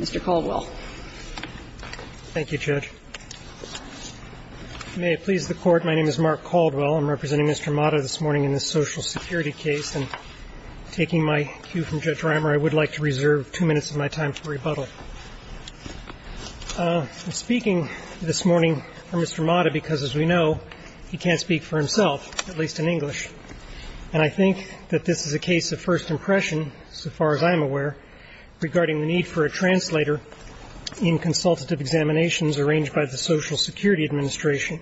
Mr. Caldwell. Thank you, Judge. May it please the Court, my name is Mark Caldwell. I'm representing Mr. Mata this morning in this social security case, and taking my cue from Judge Reimer, I would like to reserve two minutes of my time for rebuttal. I'm speaking this morning for Mr. Mata because, as we know, he can't speak for himself, at least in English, and I think that this is a case of first impression, so far as I'm aware, regarding the need for a translator in consultative examinations arranged by the Social Security Administration.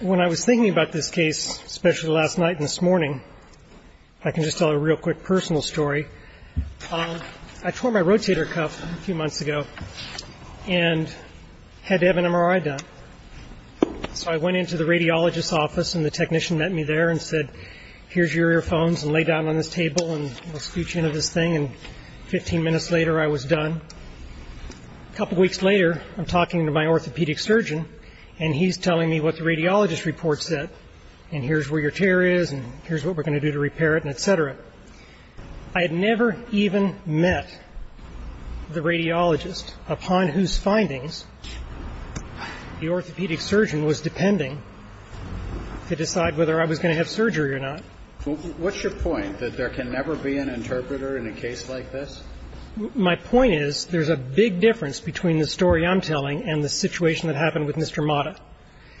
When I was thinking about this case, especially last night and this morning, if I can just tell a real quick personal story, I tore my rotator cuff a few months ago and had to have an MRI done. So I went into the radiologist's office and the technician met me there and said, here's your earphones and lay down on this table and we'll scooch you into this thing, and 15 minutes later I was done. A couple weeks later, I'm talking to my orthopedic surgeon and he's telling me what the radiologist reports it, and here's where your tear is and here's what we're going to do to repair it, etc. I had never even met the radiologist upon whose findings the orthopedic surgeon was depending to decide whether I was going to have surgery or not. Well, what's your point, that there can never be an interpreter in a case like this? My point is there's a big difference between the story I'm telling and the situation that happened with Mr. Mata.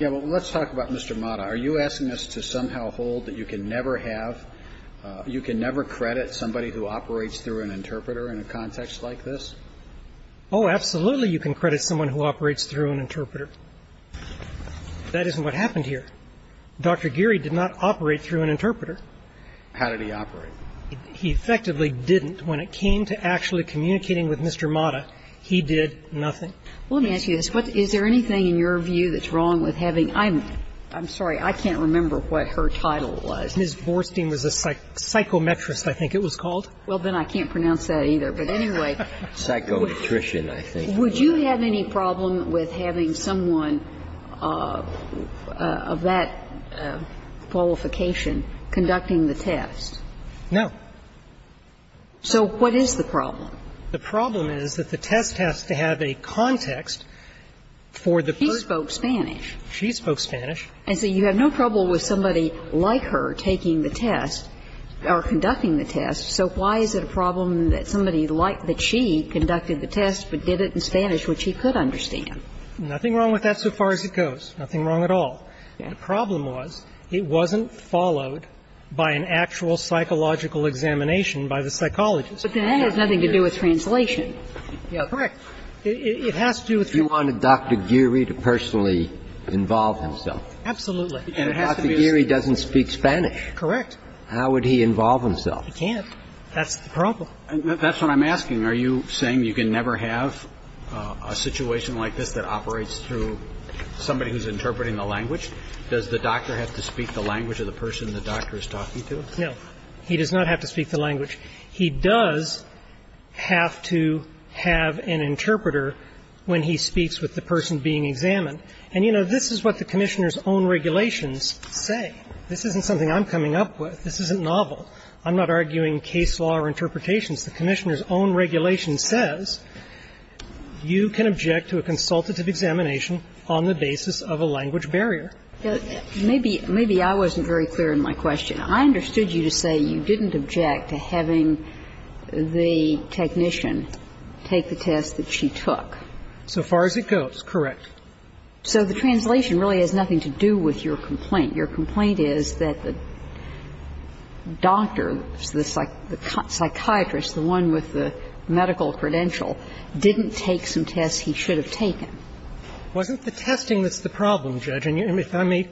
Yeah, well, let's talk about Mr. Mata. Are you asking us to somehow hold that you can never have, you can never credit somebody who operates through an interpreter in a context like this? Oh, absolutely you can credit someone who operates through an interpreter. That isn't what happened here. Dr. Geary did not operate through an interpreter. How did he operate? He effectively didn't. When it came to actually communicating with Mr. Mata, he did nothing. Well, let me ask you this. Is there anything in your view that's wrong with having ‑‑ I'm sorry, I can't remember what her title was. Ms. Borstein was a psychometrist, I think it was called. Well, then I can't pronounce that either. But anyway, would you have any problem with having someone of that qualification conducting the test? No. So what is the problem? The problem is that the test has to have a context for the person. She spoke Spanish. She spoke Spanish. And so you have no problem with somebody like her taking the test or conducting the test. So why is it a problem that somebody like that she conducted the test but did it in Nothing wrong with that so far as it goes. Nothing wrong at all. The problem was it wasn't followed by an actual psychological examination by the psychologist. But that has nothing to do with translation. Correct. It has to do with translation. You wanted Dr. Geary to personally involve himself. Absolutely. And Dr. Geary doesn't speak Spanish. Correct. How would he involve himself? He can't. That's the problem. That's what I'm asking. Are you saying you can never have a situation like this that operates through somebody who's interpreting the language? Does the doctor have to speak the language of the person the doctor is talking to? No. He does not have to speak the language. He does have to have an interpreter when he speaks with the person being examined. And, you know, this is what the Commissioner's own regulations say. This isn't something I'm coming up with. This isn't novel. I'm not arguing case law or interpretations. The Commissioner's own regulation says you can object to a consultative examination on the basis of a language barrier. Maybe I wasn't very clear in my question. I understood you to say you didn't object to having the technician take the test that she took. So far as it goes, correct. So the translation really has nothing to do with your complaint. Your complaint is that the doctor, the psychiatrist, the one with the medical credential, didn't take some tests he should have taken. Wasn't the testing that's the problem, Judge? And if I may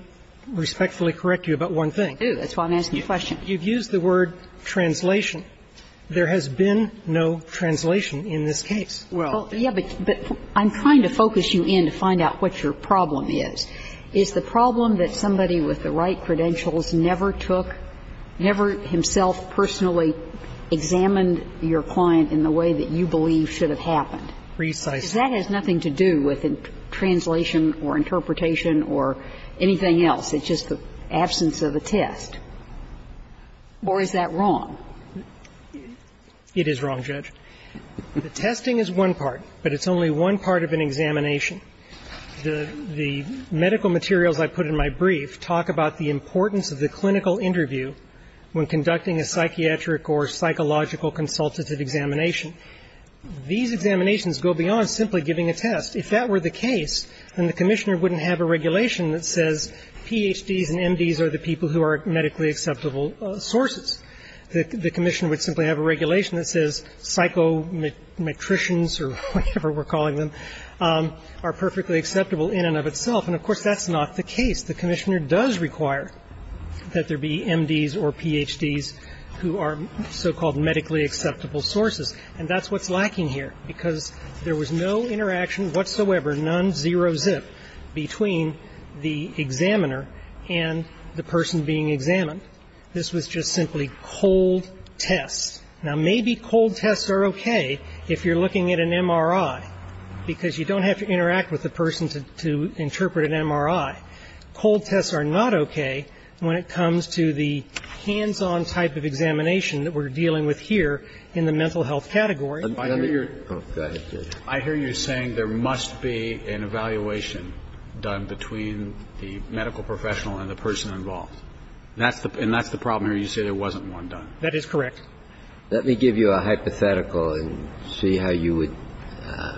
respectfully correct you about one thing. I do. That's why I'm asking you a question. You've used the word translation. There has been no translation in this case. Well, yeah, but I'm trying to focus you in to find out what your problem is. Is the problem that somebody with the right credentials never took, never himself personally examined your client in the way that you believe should have happened? Precisely. That has nothing to do with translation or interpretation or anything else. It's just the absence of a test. Or is that wrong? It is wrong, Judge. The testing is one part, but it's only one part of an examination. The medical materials I put in my brief talk about the importance of the clinical interview when conducting a psychiatric or psychological consultative examination. These examinations go beyond simply giving a test. If that were the case, then the commissioner wouldn't have a regulation that says PhDs and MDs are the people who are medically acceptable sources. The commissioner would simply have a regulation that says psychometricians or whatever we're calling them are perfectly acceptable in and of itself. And, of course, that's not the case. The commissioner does require that there be MDs or PhDs who are so-called medically acceptable sources, and that's what's lacking here because there was no interaction whatsoever, none, zero, zip, between the examiner and the person being examined. This was just simply cold tests. Now, maybe cold tests are okay if you're looking at an MRI because you don't have to interact with the person to interpret an MRI. Cold tests are not okay when it comes to the hands-on type of examination that we're dealing with here in the mental health category. I hear you're saying there must be an evaluation done between the medical professional and the person involved. And that's the problem here. You say there wasn't one done. That is correct. Let me give you a hypothetical and see how you would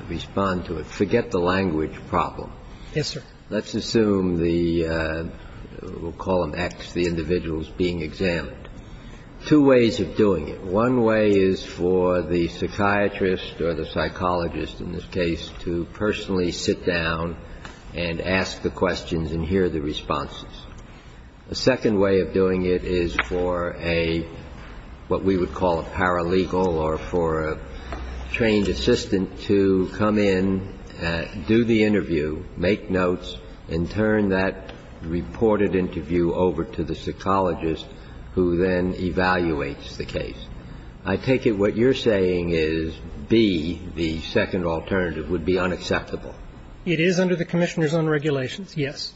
respond to it. Forget the language problem. Yes, sir. Let's assume the we'll call them X, the individuals being examined. Two ways of doing it. One way is for the psychiatrist or the psychologist in this case to personally sit down and ask the questions and hear the responses. The second way of doing it is for a, what we would call a paralegal or for a trained assistant to come in, do the interview, make notes, and turn that reported interview over to the psychologist who then evaluates the case. I take it what you're saying is, B, the second alternative would be unacceptable. It is under the Commissioner's own regulations, yes.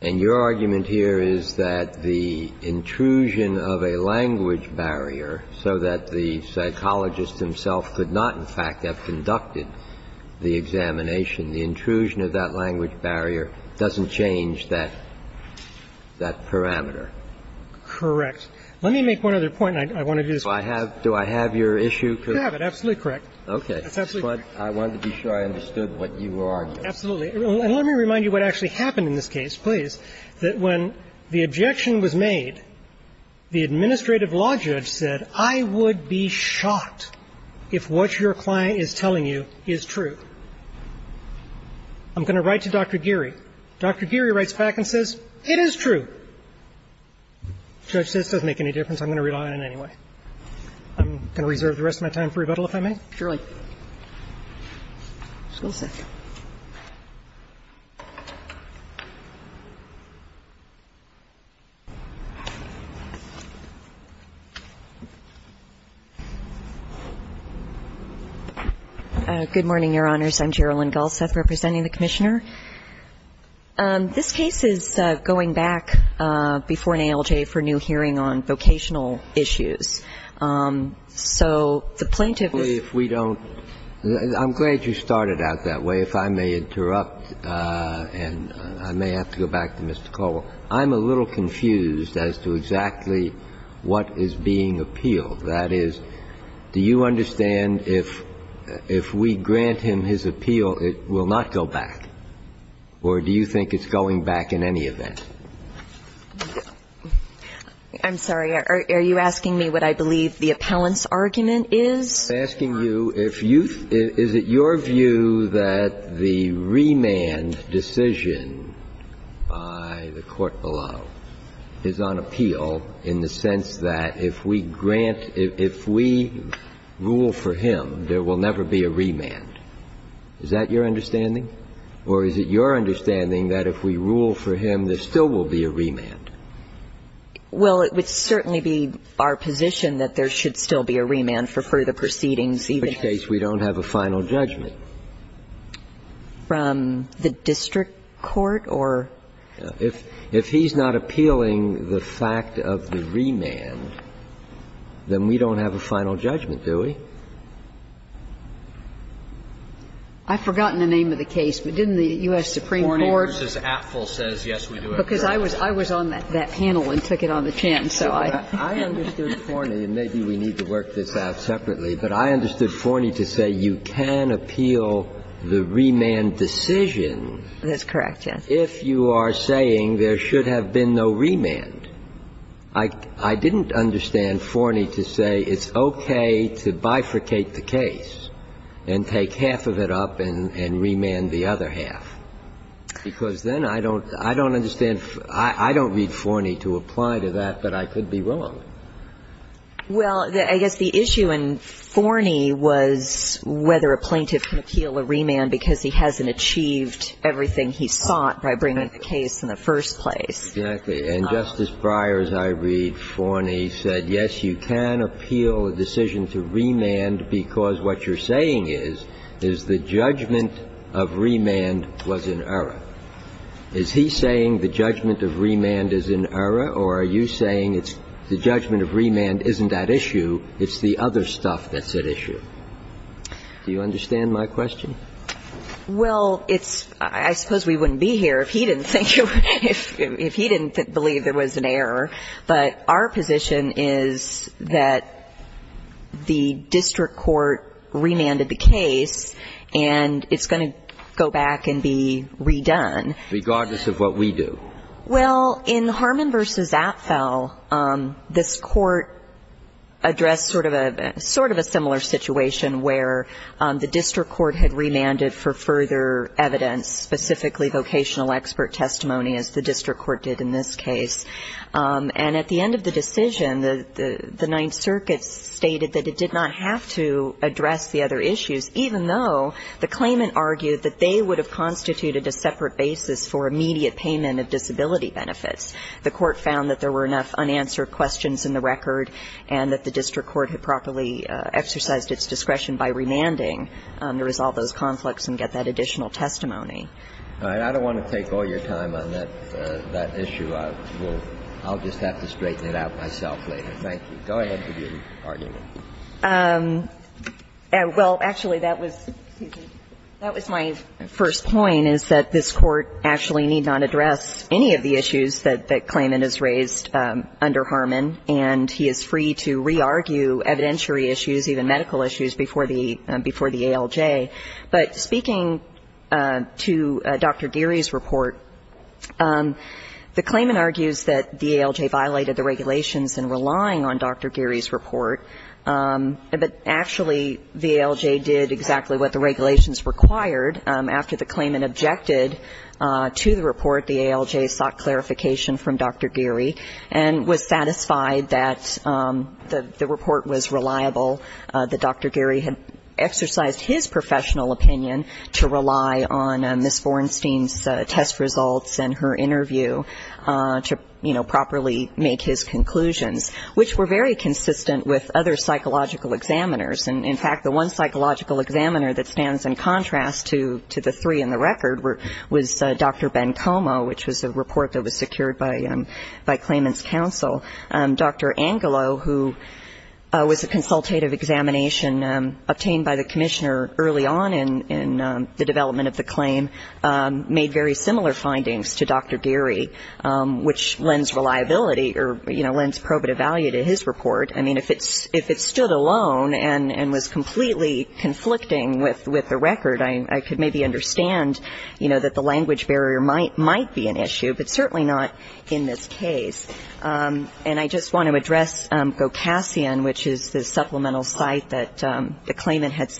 And your argument here is that the intrusion of a language barrier so that the psychologist himself could not in fact have conducted the examination, the intrusion of that language barrier doesn't change that parameter. Correct. Let me make one other point, and I want to do this one. Do I have your issue? You have it. Absolutely correct. Okay. But I wanted to be sure I understood what you were arguing. Absolutely. And let me remind you what actually happened in this case, please, that when the objection was made, the administrative law judge said, I would be shocked if what your client is telling you is true. I'm going to write to Dr. Geary. Dr. Geary writes back and says, it is true. The judge says, it doesn't make any difference. I'm going to rely on it anyway. I'm going to reserve the rest of my time for rebuttal, if I may. Surely. Good morning, Your Honors. I'm Gerilyn Gullseth, representing the Commissioner. This case is going back before an ALJ for a new hearing on vocational issues. So the plaintiff is the judge. If we don't – I'm glad you started out that way. If I may interrupt, and I may have to go back to Mr. Caldwell. I'm a little confused as to exactly what is being appealed. That is, do you understand if we grant him his appeal, it will not go back, or do you think it's going back in any event? I'm sorry. Are you asking me what I believe the appellant's argument is? I'm asking you if you – is it your view that the remand decision by the court below is on appeal in the sense that if we grant – if we rule for him, there will never be a remand? Is that your understanding? Or is it your understanding that if we rule for him, there still will be a remand? Well, it would certainly be our position that there should still be a remand for further proceedings, even if – In which case, we don't have a final judgment. From the district court, or – If he's not appealing the fact of the remand, then we don't have a final judgment, do we? I've forgotten the name of the case, but didn't the U.S. Supreme Court – Forney v. Apfel says, yes, we do have a final judgment. Because I was on that panel and took it on the chance, so I – I understood Forney, and maybe we need to work this out separately, but I understood Forney to say you can appeal the remand decision if you are saying there should have been no remand. I didn't understand Forney to say it's okay to bifurcate the case and take half of it up and remand the other half, because then I don't – I don't understand – I don't need Forney to apply to that, but I could be wrong. Well, I guess the issue in Forney was whether a plaintiff can appeal a remand because he hasn't achieved everything he sought by bringing the case in the first place. Exactly. And Justice Breyer, as I read Forney, said, yes, you can appeal a decision to remand because what you're saying is, is the judgment of remand was in error. Is he saying the judgment of remand is in error, or are you saying it's – the judgment of remand isn't that issue, it's the other stuff that's at issue? Do you understand my question? Well, it's – I suppose we wouldn't be here if he didn't think – if he didn't believe there was an error, but our position is that the district court remanded the case, and it's going to go back and be redone. Regardless of what we do. Well, in Harmon v. Apfel, this court addressed sort of a – sort of a similar situation where the district court had remanded for further evidence, specifically vocational expert testimony, as the district court did in this case. And at the end of the decision, the Ninth Circuit stated that it did not have to address the other issues, even though the claimant argued that they would have constituted a separate basis for immediate payment of disability benefits. The court found that there were enough unanswered questions in the record, and that the district court had properly exercised its discretion by remanding to resolve those conflicts and get that additional testimony. All right. I don't want to take all your time on that – that issue. I will – I'll just have to straighten it out myself later. Thank you. Go ahead with your argument. Well, actually, that was – that was my first point, is that this court actually need not address any of the issues that the claimant has raised under Harmon, and he is free to re-argue evidentiary issues, even medical issues, before the – before the ALJ. But speaking to Dr. Geary's report, the claimant argues that the ALJ violated the regulations in relying on Dr. Geary's report, but actually, the ALJ did exactly what the regulations required. After the claimant objected to the report, the ALJ sought clarification from Dr. Geary and was satisfied that the report was reliable, that Dr. Geary had exercised his professional opinion to rely on Ms. Bornstein's test results and her interview to, you know, properly make his conclusions, which were very consistent with other psychological examiners. And in fact, the one psychological examiner that stands in contrast to the three in the record were – was Dr. Ben Como, which was a report that was secured by claimant's counsel. Dr. Angelo, who was a consultative examination obtained by the commissioner early on in the development of the claim, made very similar findings to Dr. Geary, which lends reliability or, you know, lends probative value to his report. I mean, if it stood alone and was completely conflicting with the record, I could maybe understand, you know, that the language barrier might be an issue, but certainly not in this case. And I just want to address Gocasian, which is the supplemental site that the claimant had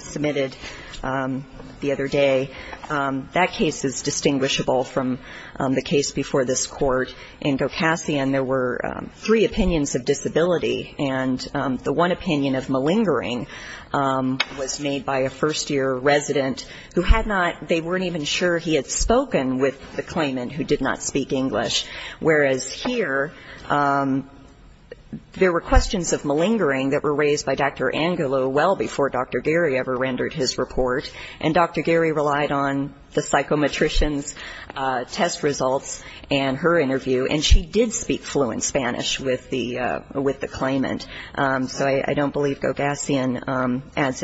submitted the other day. That case is distinguishable from the case before this Court. In Gocasian, there were three opinions of disability, and the one opinion of malingering was made by a first-year resident who had not – they weren't even sure he had spoken with the claimant, who did not speak English, whereas here, there were questions of malingering that were raised by Dr. Angelo well before Dr. Geary ever rendered his report. And Dr. Geary relied on the psychometrician's test results and her interview, and she did speak fluent Spanish with the claimant. So I don't believe Gocasian adds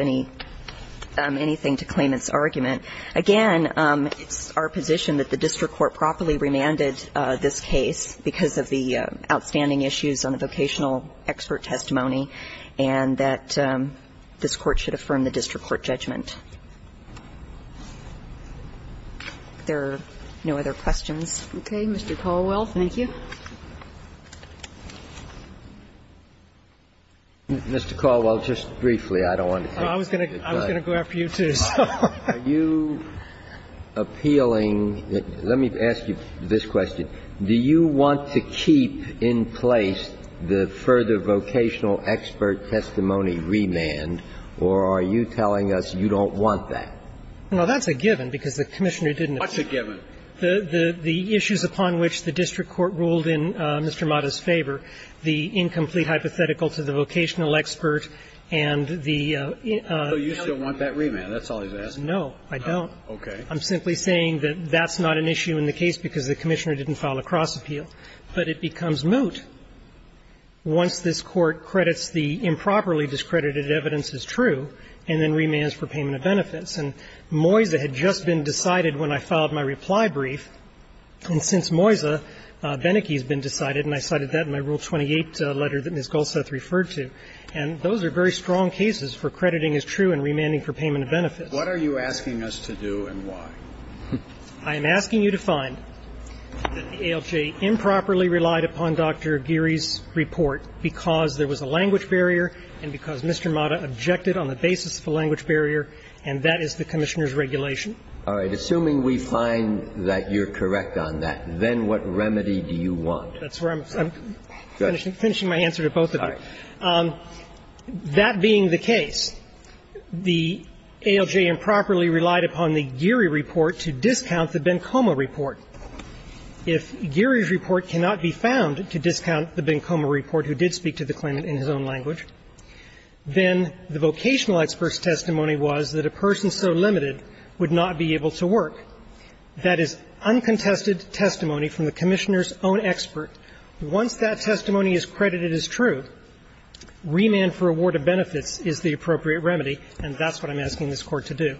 anything to claimant's argument. Again, it's our position that the district court properly remanded this case because of the outstanding issues on the vocational expert testimony, and that this Court should affirm the district court judgment. If there are no other questions. Okay. Mr. Caldwell, thank you. Mr. Caldwell, just briefly, I don't want to take the time. I was going to go after you, too, so. Are you appealing – let me ask you this question. Do you want to keep in place the further vocational expert testimony remand, or are you telling us you don't want that? Well, that's a given, because the Commissioner didn't approve it. What's a given? The issues upon which the district court ruled in Mr. Mata's favor, the incomplete hypothetical to the vocational expert and the – So you still want that remand. That's all he's asking. No, I don't. Okay. I'm simply saying that that's not an issue in the case because the Commissioner didn't file a cross-appeal. But it becomes moot once this Court credits the improperly discredited evidence as true and then remands for payment of benefits. And Moyza had just been decided when I filed my reply brief. And since Moyza, Beneke has been decided, and I cited that in my Rule 28 letter that Ms. Goldsteth referred to. And those are very strong cases for crediting as true and remanding for payment of benefits. What are you asking us to do and why? I am asking you to find that the ALJ improperly relied upon Dr. Geary's report because there was a language barrier and because Mr. Mata objected on the basis of a language barrier, and that is the Commissioner's regulation. All right. Assuming we find that you're correct on that, then what remedy do you want? That's where I'm finishing my answer to both of them. That being the case, the ALJ improperly relied upon the Geary report to discount the Bencoma report. If Geary's report cannot be found to discount the Bencoma report who did speak to the language, then the vocational expert's testimony was that a person so limited would not be able to work. That is uncontested testimony from the Commissioner's own expert. Once that testimony is credited as true, remand for award of benefits is the appropriate remedy, and that's what I'm asking this Court to do.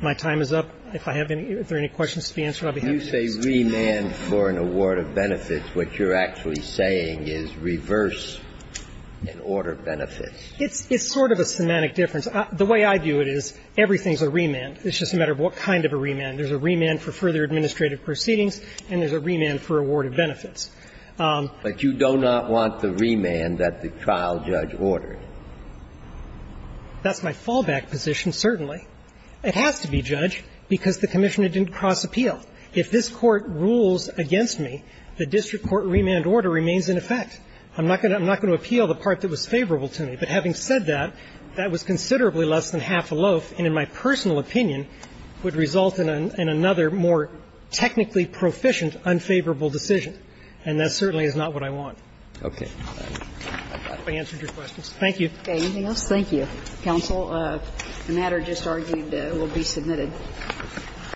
My time is up. If I have any other questions to be answered, I'll be happy to answer them. If it's remand for an award of benefits, what you're actually saying is reverse an order of benefits. It's sort of a semantic difference. The way I view it is everything's a remand. It's just a matter of what kind of a remand. There's a remand for further administrative proceedings, and there's a remand for award of benefits. But you do not want the remand that the trial judge ordered. That's my fallback position, certainly. It has to be judged because the Commissioner didn't cross-appeal. If this Court rules against me, the district court remand order remains in effect. I'm not going to appeal the part that was favorable to me. But having said that, that was considerably less than half a loaf and, in my personal opinion, would result in another more technically proficient, unfavorable decision. And that certainly is not what I want. Roberts. Thank you. Thank you. Counsel, the matter just argued will be submitted.